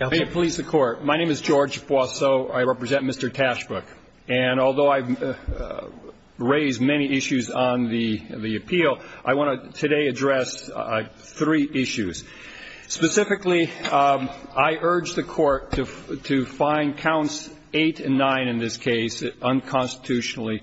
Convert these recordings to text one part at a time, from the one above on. May it please the Court, my name is George Boisseau, I represent Mr. Tashbrook. And although I've raised many issues on the appeal, I want to today address three issues. Specifically, I urge the Court to find counts 8 and 9 in this case unconstitutionally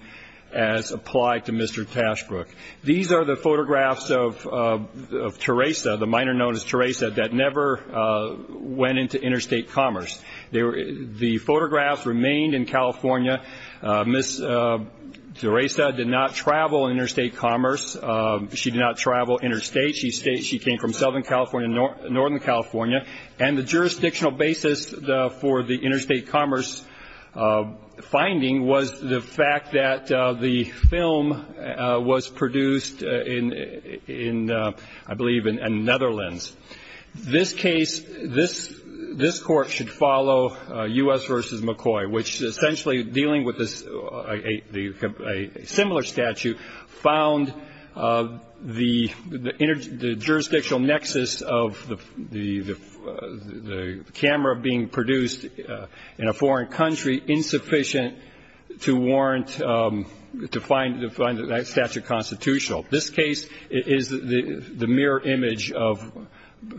as applied to Mr. Tashbrook. These are the photographs of Teresa, the miner known as Teresa, that never went into interstate commerce. The photographs remained in California. Ms. Teresa did not travel interstate commerce. She did not travel interstate. She came from Southern California and Northern California. And the jurisdictional basis for the interstate commerce finding was the fact that the film was produced in, I believe, the Netherlands. This case, this Court should follow U.S. v. McCoy, which essentially dealing with a similar statute found the jurisdictional nexus of the camera being produced in a foreign country insufficient to warrant, to find that statute constitutional. This case is the mirror image of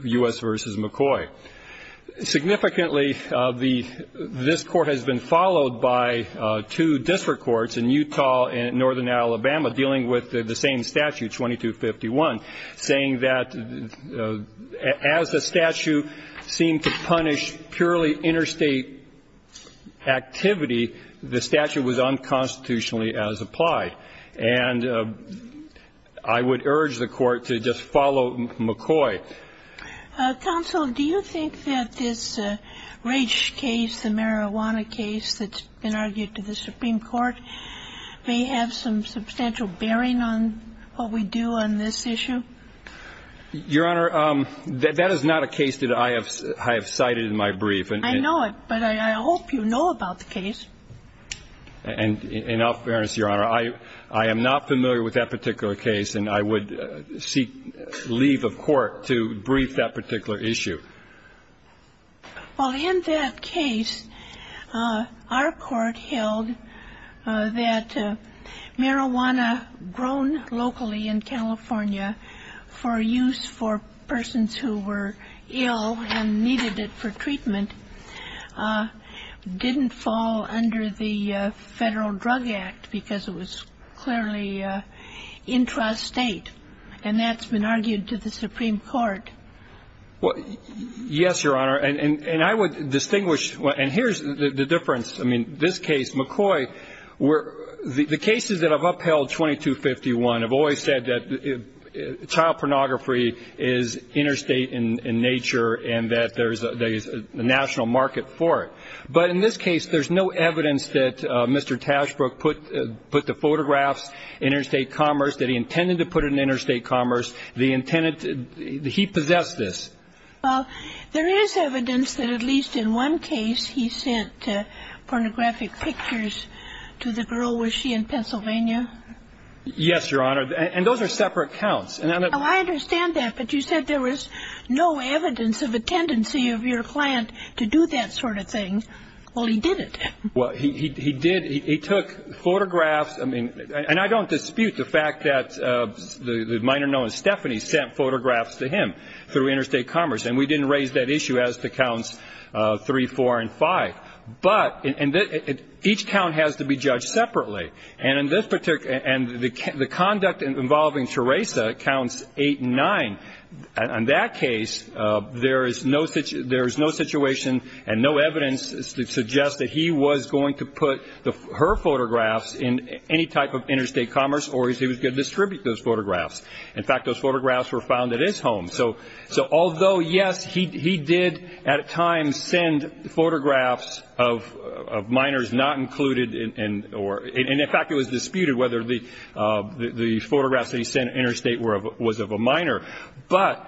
U.S. v. McCoy. Significantly, this Court has been followed by two district courts in Utah and Northern Alabama dealing with the same statute, 2251, saying that as the statute seemed to punish purely interstate activity, the statute was unconstitutionally as applied. And I would urge the Court to just follow McCoy. Counsel, do you think that this Raich case, the marijuana case that's been argued to the Supreme Court, may have some substantial bearing on what we do on this issue? Your Honor, that is not a case that I have cited in my brief. I know it, but I hope you know about the case. And in all fairness, Your Honor, I am not familiar with that particular case, and I would seek leave of court to brief that particular issue. Well, in that case, our Court held that marijuana grown locally in California for use for persons who were ill and needed it for treatment didn't fall under the Federal Drug Act because it was clearly intrastate. And that's been argued to the Supreme Court. Yes, Your Honor. And I would distinguish. And here's the difference. I mean, this case, McCoy, the cases that have upheld 2251 have always said that child pornography is interstate in nature and that there's a national market for it. But in this case, there's no evidence that Mr. Tashbrook put the photographs in interstate commerce, that he intended to put it in interstate commerce. He possessed this. Well, there is evidence that at least in one case he sent pornographic pictures to the girl. Was she in Pennsylvania? Yes, Your Honor. And those are separate counts. Oh, I understand that. But you said there was no evidence of a tendency of your client to do that sort of thing. Well, he did it. Well, he did. He took photographs. I mean, and I don't dispute the fact that the minor known as Stephanie sent photographs to him through interstate commerce. And we didn't raise that issue as to counts three, four, and five. But each count has to be judged separately. And the conduct involving Teresa counts eight and nine. In that case, there is no situation and no evidence to suggest that he was going to put her photographs in any type of interstate commerce or he was going to distribute those photographs. In fact, those photographs were found at his home. So although, yes, he did at times send photographs of minors not included, and in fact it was disputed whether the photographs that he sent interstate was of a minor. But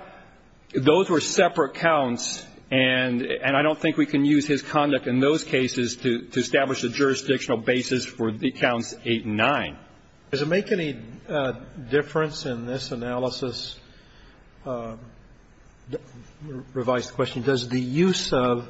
those were separate counts, and I don't think we can use his conduct in those cases to establish a jurisdictional basis for the counts eight and nine. Does it make any difference in this analysis, revised question, does the use of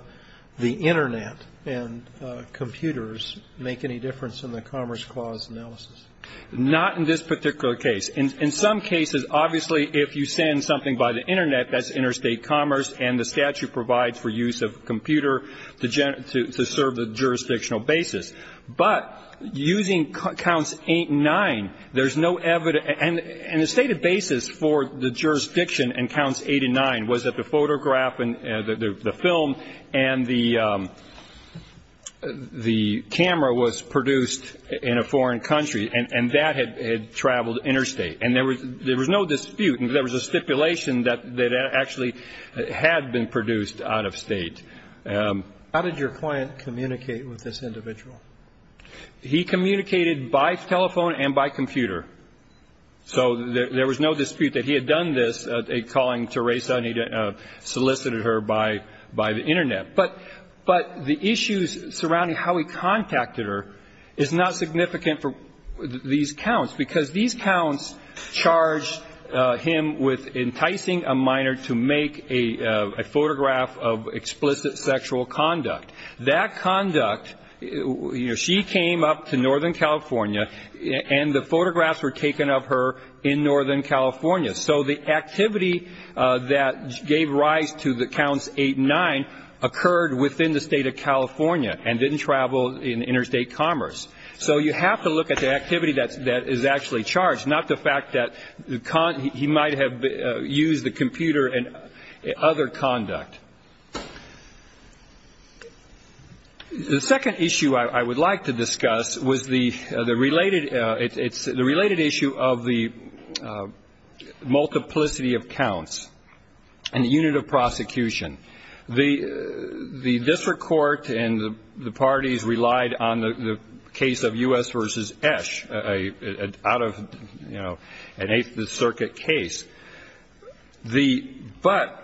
the Internet and computers make any difference in the Commerce Clause analysis? Not in this particular case. In some cases, obviously, if you send something by the Internet, that's interstate commerce, and the statute provides for use of computer to serve the jurisdictional basis. But using counts eight and nine, there's no evidence. And the stated basis for the jurisdiction in counts eight and nine was that the photograph and the film and the camera was produced in a foreign country, and that had traveled interstate. And there was no dispute. There was a stipulation that actually had been produced out of state. How did your client communicate with this individual? He communicated by telephone and by computer. So there was no dispute that he had done this, calling Teresa and he solicited her by the Internet. But the issues surrounding how he contacted her is not significant for these counts, charged him with enticing a minor to make a photograph of explicit sexual conduct. That conduct, you know, she came up to northern California, and the photographs were taken of her in northern California. So the activity that gave rise to the counts eight and nine occurred within the state of California and didn't travel in interstate commerce. So you have to look at the activity that is actually charged, not the fact that he might have used the computer and other conduct. The second issue I would like to discuss was the related issue of the multiplicity of counts and the unit of prosecution. The district court and the parties relied on the case of U.S. v. Esch, out of, you know, an Eighth Circuit case. But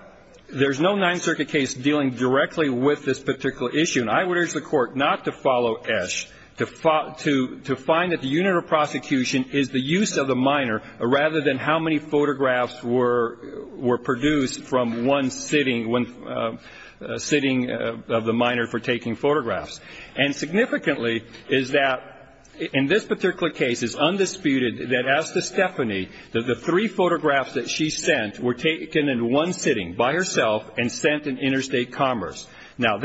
there's no Ninth Circuit case dealing directly with this particular issue, and I would urge the court not to follow Esch, to find that the unit of prosecution is the use of the minor rather than how many photographs were produced from one sitting of the minor for taking photographs. And significantly is that in this particular case it's undisputed that as to Stephanie, that the three photographs that she sent were taken in one sitting by herself and sent in interstate commerce. Now,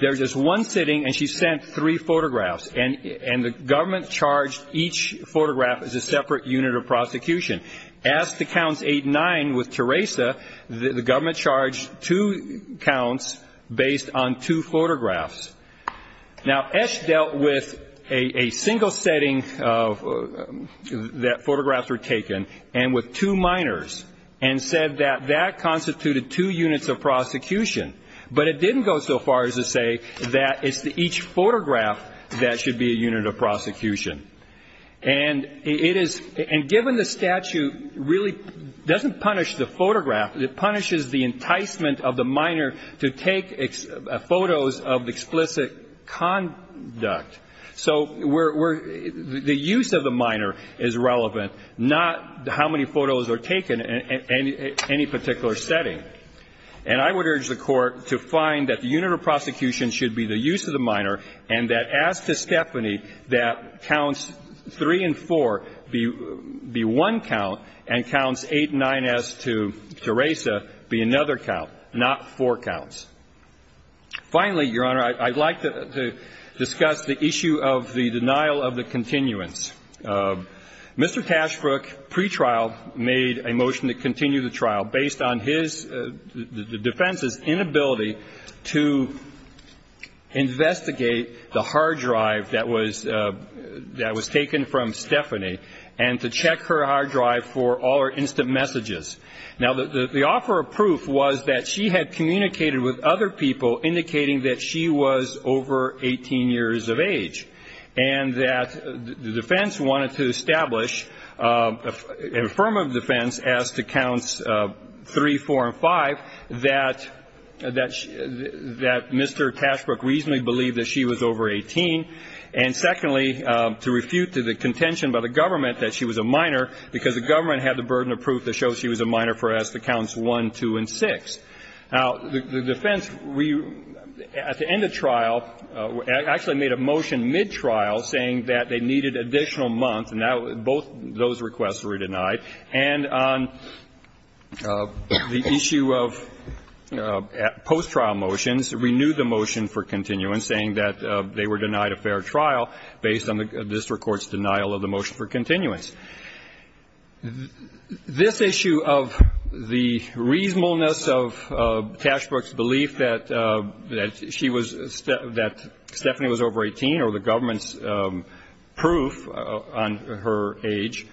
there's this one sitting, and she sent three photographs, and the government charged each photograph as a separate unit of prosecution. As to Counts 8 and 9 with Teresa, the government charged two counts based on two photographs. Now, Esch dealt with a single setting that photographs were taken and with two minors and said that that constituted two units of prosecution. But it didn't go so far as to say that it's each photograph that should be a unit of prosecution. And it is ñ and given the statute really doesn't punish the photograph. It punishes the enticement of the minor to take photos of explicit conduct. So we're ñ the use of the minor is relevant, not how many photos are taken in any particular setting. And I would urge the Court to find that the unit of prosecution should be the use of the minor and that as to Stephanie, that Counts 3 and 4 be one count and Counts 8 and 9 as to Teresa be another count, not four counts. Finally, Your Honor, I'd like to discuss the issue of the denial of the continuance. Mr. Tashbrook, pretrial, made a motion to continue the trial based on his ñ the defense's inability to investigate the hard drive that was taken from Stephanie and to check her hard drive for all her instant messages. Now, the offer of proof was that she had communicated with other people indicating that she was over 18 years of age and that the defense wanted to establish a firm of defense as to Counts 3, 4, and 5, that Mr. Tashbrook reasonably believed that she was over 18. And secondly, to refute to the contention by the government that she was a minor because the government had the burden of proof that shows she was a minor for as to Counts 1, 2, and 6. Now, the defense, at the end of trial, actually made a motion mid-trial saying that they needed additional months, and now both those requests were denied. And on the issue of post-trial motions, renewed the motion for continuance saying that they were denied a fair trial based on the district court's denial of the motion for continuance. This issue of the reasonableness of Tashbrook's belief that she was – that Stephanie was over 18 or the government's proof on her age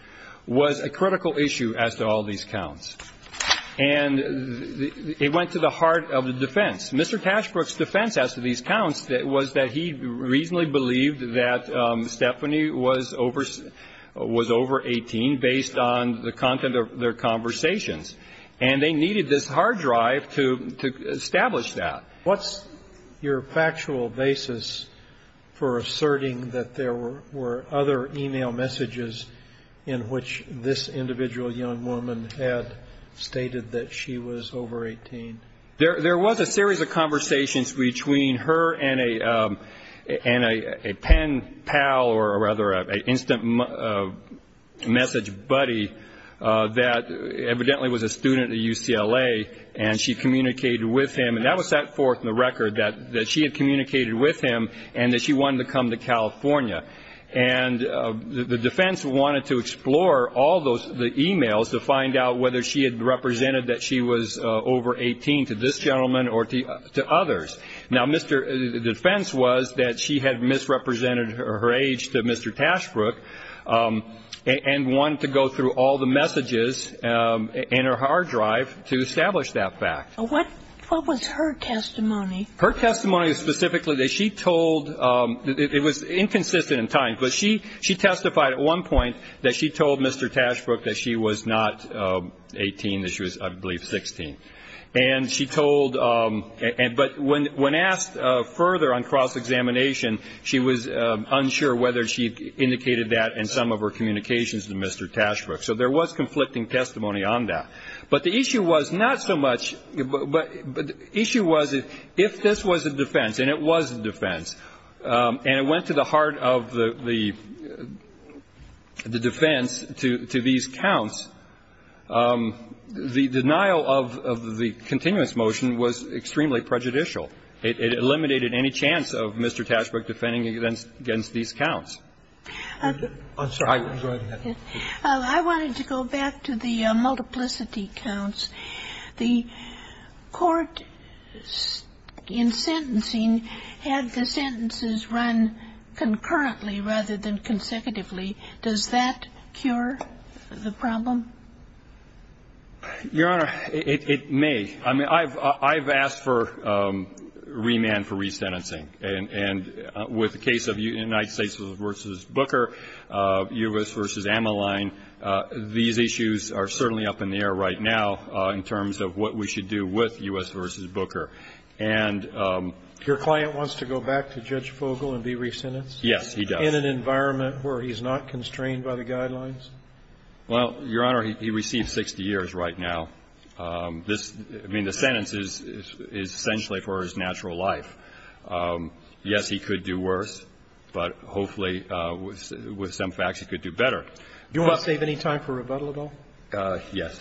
was a critical issue as to all these counts. And it went to the heart of the defense. Mr. Tashbrook's defense as to these counts was that he reasonably believed that Stephanie was over 18 based on the content of their conversations. And they needed this hard drive to establish that. What's your factual basis for asserting that there were other e-mail messages in which this individual young woman had stated that she was over 18? There was a series of conversations between her and a pen pal or rather an instant message buddy that evidently was a student at UCLA, and she communicated with him. And that was set forth in the record that she had communicated with him and that she wanted to come to California. And the defense wanted to explore all the e-mails to find out whether she had represented that she was over 18 to this gentleman or to others. Now, the defense was that she had misrepresented her age to Mr. Tashbrook and wanted to go through all the messages in her hard drive to establish that fact. What was her testimony? Her testimony was specifically that she told, it was inconsistent in time, but she testified at one point that she told Mr. Tashbrook that she was not 18, that she was, I believe, 16. And she told, but when asked further on cross-examination, she was unsure whether she indicated that in some of her communications to Mr. Tashbrook. So there was conflicting testimony on that. But the issue was not so much, but the issue was if this was a defense, and it was a defense, and it went to the heart of the defense to these counts, the denial of the continuous motion was extremely prejudicial. It eliminated any chance of Mr. Tashbrook defending against these counts. I'm sorry. Go ahead. I wanted to go back to the multiplicity counts. The court in sentencing had the sentences run concurrently rather than consecutively. Does that cure the problem? Your Honor, it may. I mean, I've asked for remand for resentencing. And with the case of United States v. Booker, U.S. v. Ammaline, these issues are certainly up in the air right now in terms of what we should do with U.S. v. Booker. And your client wants to go back to Judge Fogel and be resentenced? Yes, he does. In an environment where he's not constrained by the guidelines? Well, Your Honor, he receives 60 years right now. I mean, the sentence is essentially for his natural life. Yes, he could do worse, but hopefully with some facts he could do better. Do you want to save any time for rebuttal at all? Yes.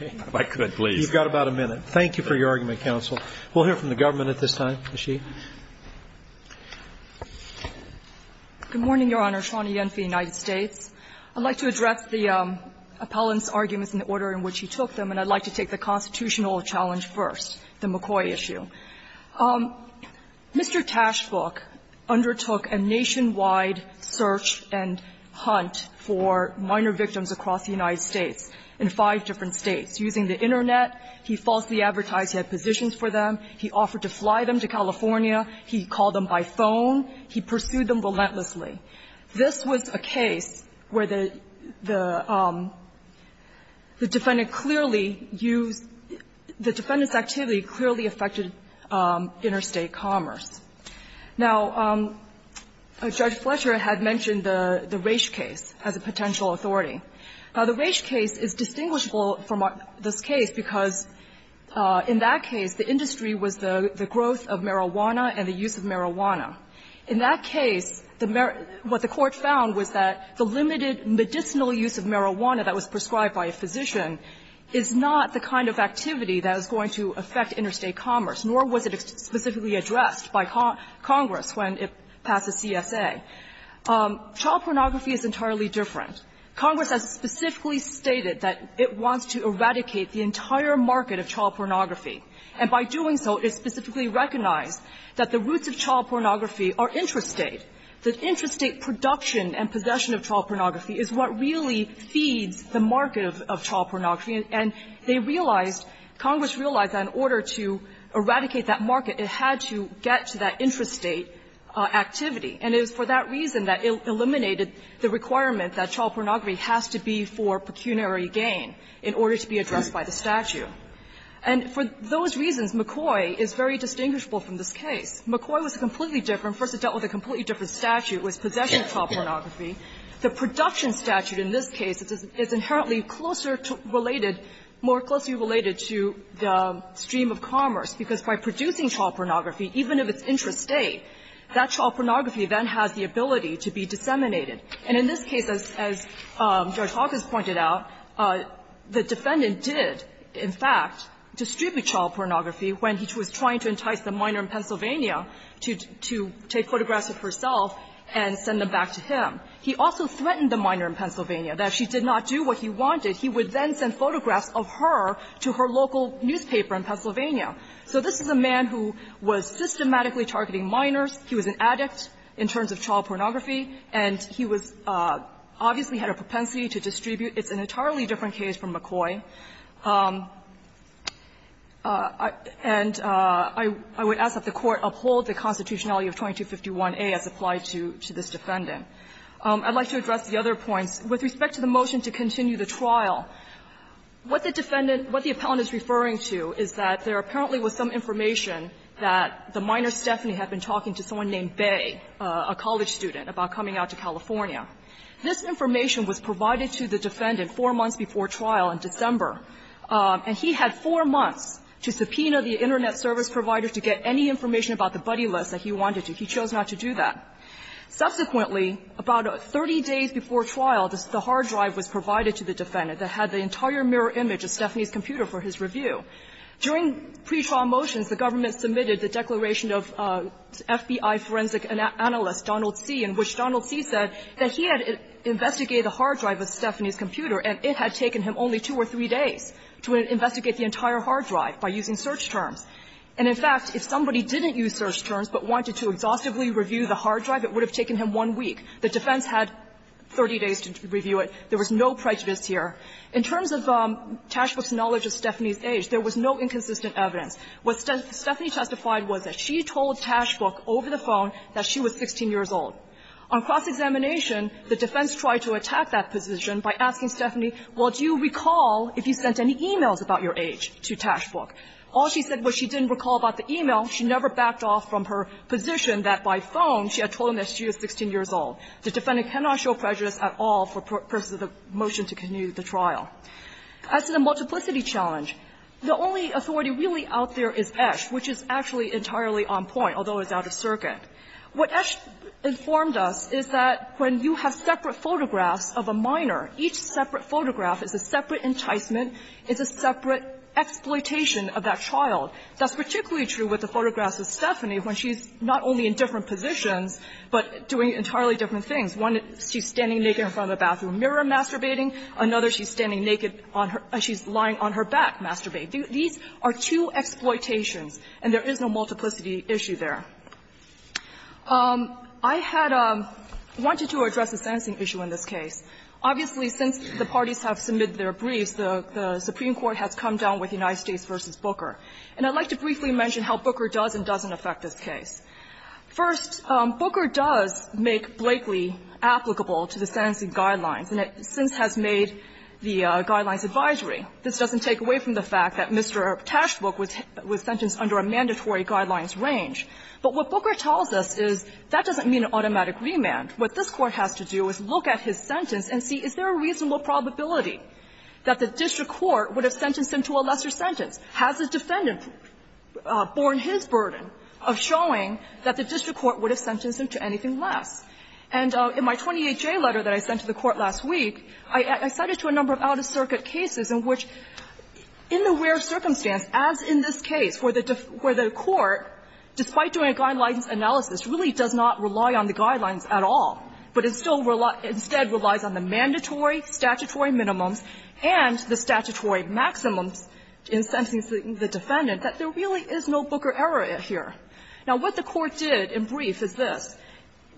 If I could, please. You've got about a minute. Thank you for your argument, counsel. We'll hear from the government at this time. Ms. Sheehy. Good morning, Your Honor. Shawna Yen for the United States. I'd like to address the appellant's arguments in the order in which he took them, and I'd like to take the constitutional challenge first, the McCoy issue. Mr. Tashbook undertook a nationwide search and hunt for minor victims across the United States in five different states using the Internet. He falsely advertised he had positions for them. He offered to fly them to California. He called them by phone. He pursued them relentlessly. This was a case where the defendant clearly used the defendant's activity clearly affected interstate commerce. Now, Judge Fletcher had mentioned the Raich case as a potential authority. Now, the Raich case is distinguishable from this case because in that case the industry was the growth of marijuana and the use of marijuana. In that case, what the Court found was that the limited medicinal use of marijuana that was prescribed by a physician is not the kind of activity that is going to affect interstate commerce, nor was it specifically addressed by Congress when it passes CSA. Child pornography is entirely different. Congress has specifically stated that it wants to eradicate the entire market of child pornography, and by doing so, it specifically recognized that the roots of child pornography are intrastate. The intrastate production and possession of child pornography is what really feeds the market of child pornography, and they realized, Congress realized that in order to eradicate that market, it had to get to that intrastate activity. And it was for that reason that it eliminated the requirement that child pornography has to be for pecuniary gain in order to be addressed by the statute. And for those reasons, McCoy is very distinguishable from this case. McCoy was completely different. First it dealt with a completely different statute. It was possession of child pornography. The production statute in this case is inherently closer related, more closely related to the stream of commerce, because by producing child pornography, even if it's intrastate, that child pornography then has the ability to be disseminated. And in this case, as Judge Hawkins pointed out, the defendant did, in fact, distribute child pornography when he was trying to entice the minor in Pennsylvania to take photographs of herself and send them back to him. He also threatened the minor in Pennsylvania that if she did not do what he wanted, he would then send photographs of her to her local newspaper in Pennsylvania. So this is a man who was systematically targeting minors. He was an addict in terms of child pornography, and he was obviously had a propensity to distribute. It's an entirely different case from McCoy. And I would ask that the Court uphold the constitutionality of 2251a as applied to this defendant. I'd like to address the other points. With respect to the motion to continue the trial, what the defendant – what the appellant is referring to is that there apparently was some information that the minor Stephanie had been talking to someone named Bay, a college student, about coming out to California. This information was provided to the defendant four months before trial in December, and he had four months to subpoena the Internet service provider to get any information about the buddy list that he wanted to. He chose not to do that. Subsequently, about 30 days before trial, the hard drive was provided to the defendant that had the entire mirror image of Stephanie's computer for his review. During pretrial motions, the government submitted the declaration of FBI forensic analyst Donald C., in which Donald C. said that he had investigated the hard drive of Stephanie's computer, and it had taken him only two or three days to investigate the entire hard drive by using search terms. And in fact, if somebody didn't use search terms but wanted to exhaustively review the hard drive, it would have taken him one week. The defense had 30 days to review it. There was no prejudice here. In terms of Tashbrook's knowledge of Stephanie's age, there was no inconsistent evidence. What Stephanie testified was that she told Tashbrook over the phone that she was 16 years old. On cross-examination, the defense tried to attack that position by asking Stephanie, well, do you recall if you sent any e-mails about your age to Tashbrook? All she said was she didn't recall about the e-mail. She never backed off from her position that by phone she had told him that she was 16 years old. The defendant cannot show prejudice at all for purposes of the motion to continue the trial. As to the multiplicity challenge, the only authority really out there is Esch, which is actually entirely on point, although it's out of circuit. What Esch informed us is that when you have separate photographs of a minor, each separate photograph is a separate enticement, it's a separate exploitation of that child. That's particularly true with the photographs of Stephanie when she's not only in different positions, but doing entirely different things. One, she's standing naked in front of the bathroom mirror masturbating. Another, she's standing naked on her – she's lying on her back masturbating. These are two exploitations, and there is no multiplicity issue there. I had wanted to address a sentencing issue in this case. Obviously, since the parties have submitted their briefs, the Supreme Court has come down with United States v. Booker. And I'd like to briefly mention how Booker does and doesn't affect this case. First, Booker does make Blakeley applicable to the sentencing guidelines, and it since has made the guidelines advisory. This doesn't take away from the fact that Mr. Taschbuck was sentenced under a mandatory guidelines range. But what Booker tells us is that doesn't mean an automatic remand. What this Court has to do is look at his sentence and see, is there a reasonable probability that the district court would have sentenced him to a lesser sentence? Has the defendant borne his burden of showing that the district court would have sentenced him to anything less? And in my 28J letter that I sent to the Court last week, I cited to a number of out-of-circuit cases in which, in the rare circumstance, as in this case, where the Court, despite doing a guidelines analysis, really does not rely on the guidelines at all, but it still instead relies on the mandatory statutory minimums and the statutory maximums in sentencing the defendant, that there really is no Booker error here. Now, what the Court did in brief is this.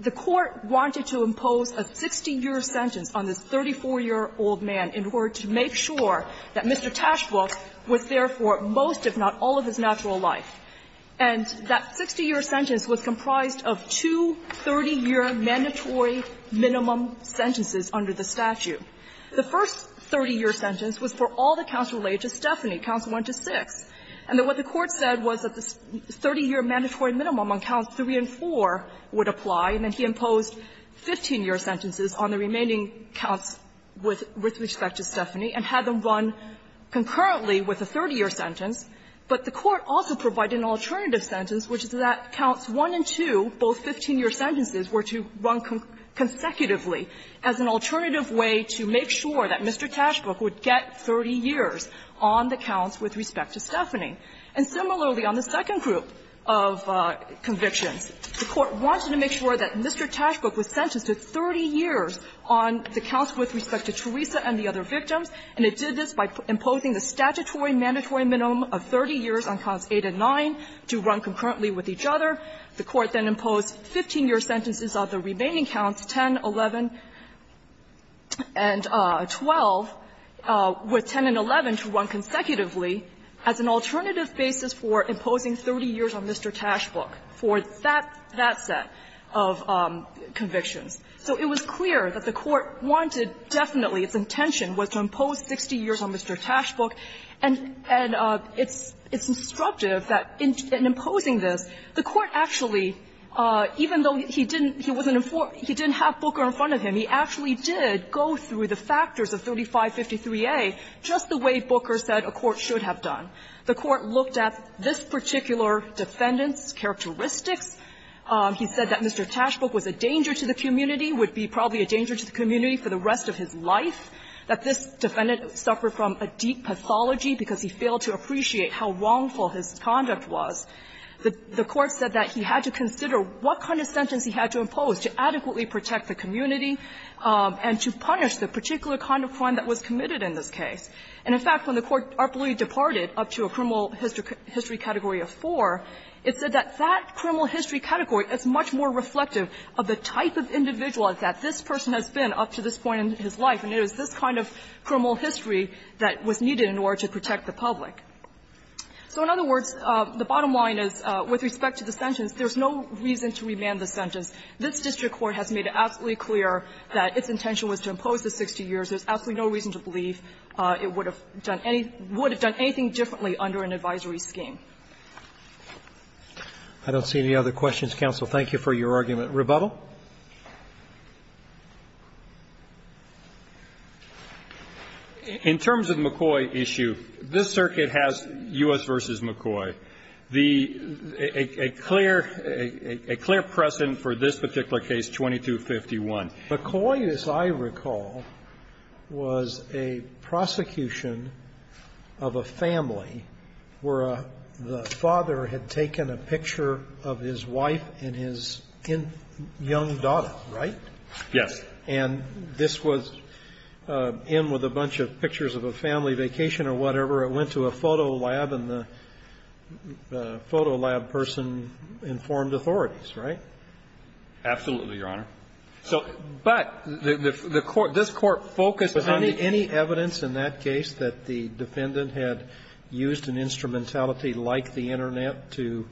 The Court wanted to impose a 60-year sentence on this 34-year-old man in order to make sure that Mr. Taschbuck was there for most, if not all, of his natural life. And that 60-year sentence was comprised of two 30-year mandatory minimum sentences under the statute. The first 30-year sentence was for all the counsel related to Stephanie, counsel 1 to 6. And what the Court said was that the 30-year mandatory minimum on counts 3 and 4 would apply, and then he imposed 15-year sentences on the remaining counts with respect to Stephanie and had them run concurrently with a 30-year sentence. But the Court also provided an alternative sentence, which is that counts 1 and 2, both 15-year sentences, were to run consecutively as an alternative way to make sure that Mr. Taschbuck was sentenced to 30 years on the counts with respect to Theresa and the other victims, and it did this by imposing the statutory mandatory minimum of 30 years on counts 8 and 9 to run concurrently with each other. The Court then imposed 15-year sentences on the remaining counts, 10, 11, and 12, with 10 and 11 to run consecutively on the counts with respect to Stephanie. And the Court also provided an alternative basis for imposing 30 years on Mr. Taschbuck for that set of convictions. So it was clear that the Court wanted definitely, its intention was to impose 60 years on Mr. Taschbuck, and it's instructive that in imposing this, the Court actually, even though he didn't have Booker in front of him, he actually did go through the factors of 3553a, just the way Booker said a court should have done. The Court looked at this particular defendant's characteristics. He said that Mr. Taschbuck was a danger to the community, would be probably a danger to the community for the rest of his life, that this defendant suffered from a deep pathology because he failed to appreciate how wrongful his conduct was. The Court said that he had to consider what kind of sentence he had to impose to adequately protect the community and to punish the particular kind of crime that was committed in this case. And, in fact, when the Court abruptly departed up to a criminal history category of four, it said that that criminal history category is much more reflective of the type of individual that this person has been up to this point in his life, and it was this kind of criminal history that was needed in order to protect the public. So in other words, the bottom line is, with respect to the sentence, there's no reason to remand the sentence. This district court has made it absolutely clear that its intention was to impose the 60 years. There's absolutely no reason to believe it would have done any – would have done anything differently under an advisory scheme. Roberts. Roberts. I don't see any other questions, counsel. Thank you for your argument. Rebuttal. In terms of the McCoy issue, this circuit has U.S. v. McCoy. The – a clear precedent for this particular case, 2251. McCoy, as I recall, was a prosecution of a family where the father had taken a picture of his wife and his young daughter, right? Yes. And this was in with a bunch of pictures of a family vacation or whatever. It went to a photo lab and the photo lab person informed authorities, right? Absolutely, Your Honor. So – but the court – this court focused on the – But any evidence in that case that the defendant had used an instrumentality like the Internet to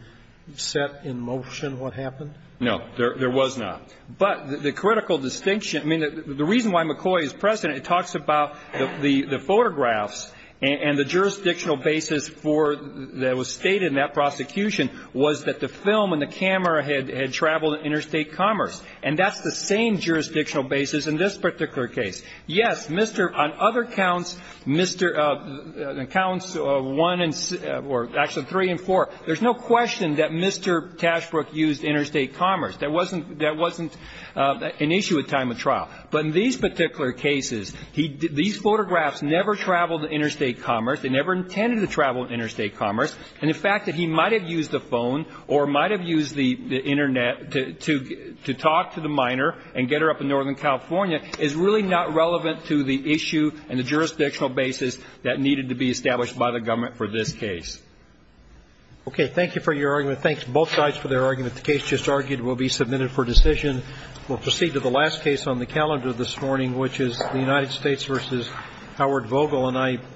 set in motion what happened? No. There was not. But the critical distinction – I mean, the reason why McCoy is precedent, it talks about the photographs and the jurisdictional basis for – that was stated in that prosecution was that the film and the camera had traveled in interstate commerce. And that's the same jurisdictional basis in this particular case. Yes, Mr. – on other counts, Mr. – on counts one and – or actually three and four, there's no question that Mr. Tashbrook used interstate commerce. That wasn't – that wasn't an issue at time of trial. But in these particular cases, he – these photographs never traveled to interstate commerce. They never intended to travel to interstate commerce. And the fact that he might have used a phone or might have used the Internet to talk to the miner and get her up in Northern California is really not relevant to the issue and the jurisdictional basis that needed to be established by the government for this case. Okay. Thank you for your argument. Thanks, both sides, for their argument. The case just argued will be submitted for decision. We'll proceed to the last case on the calendar this morning, which is the United States versus Howard Vogel. And I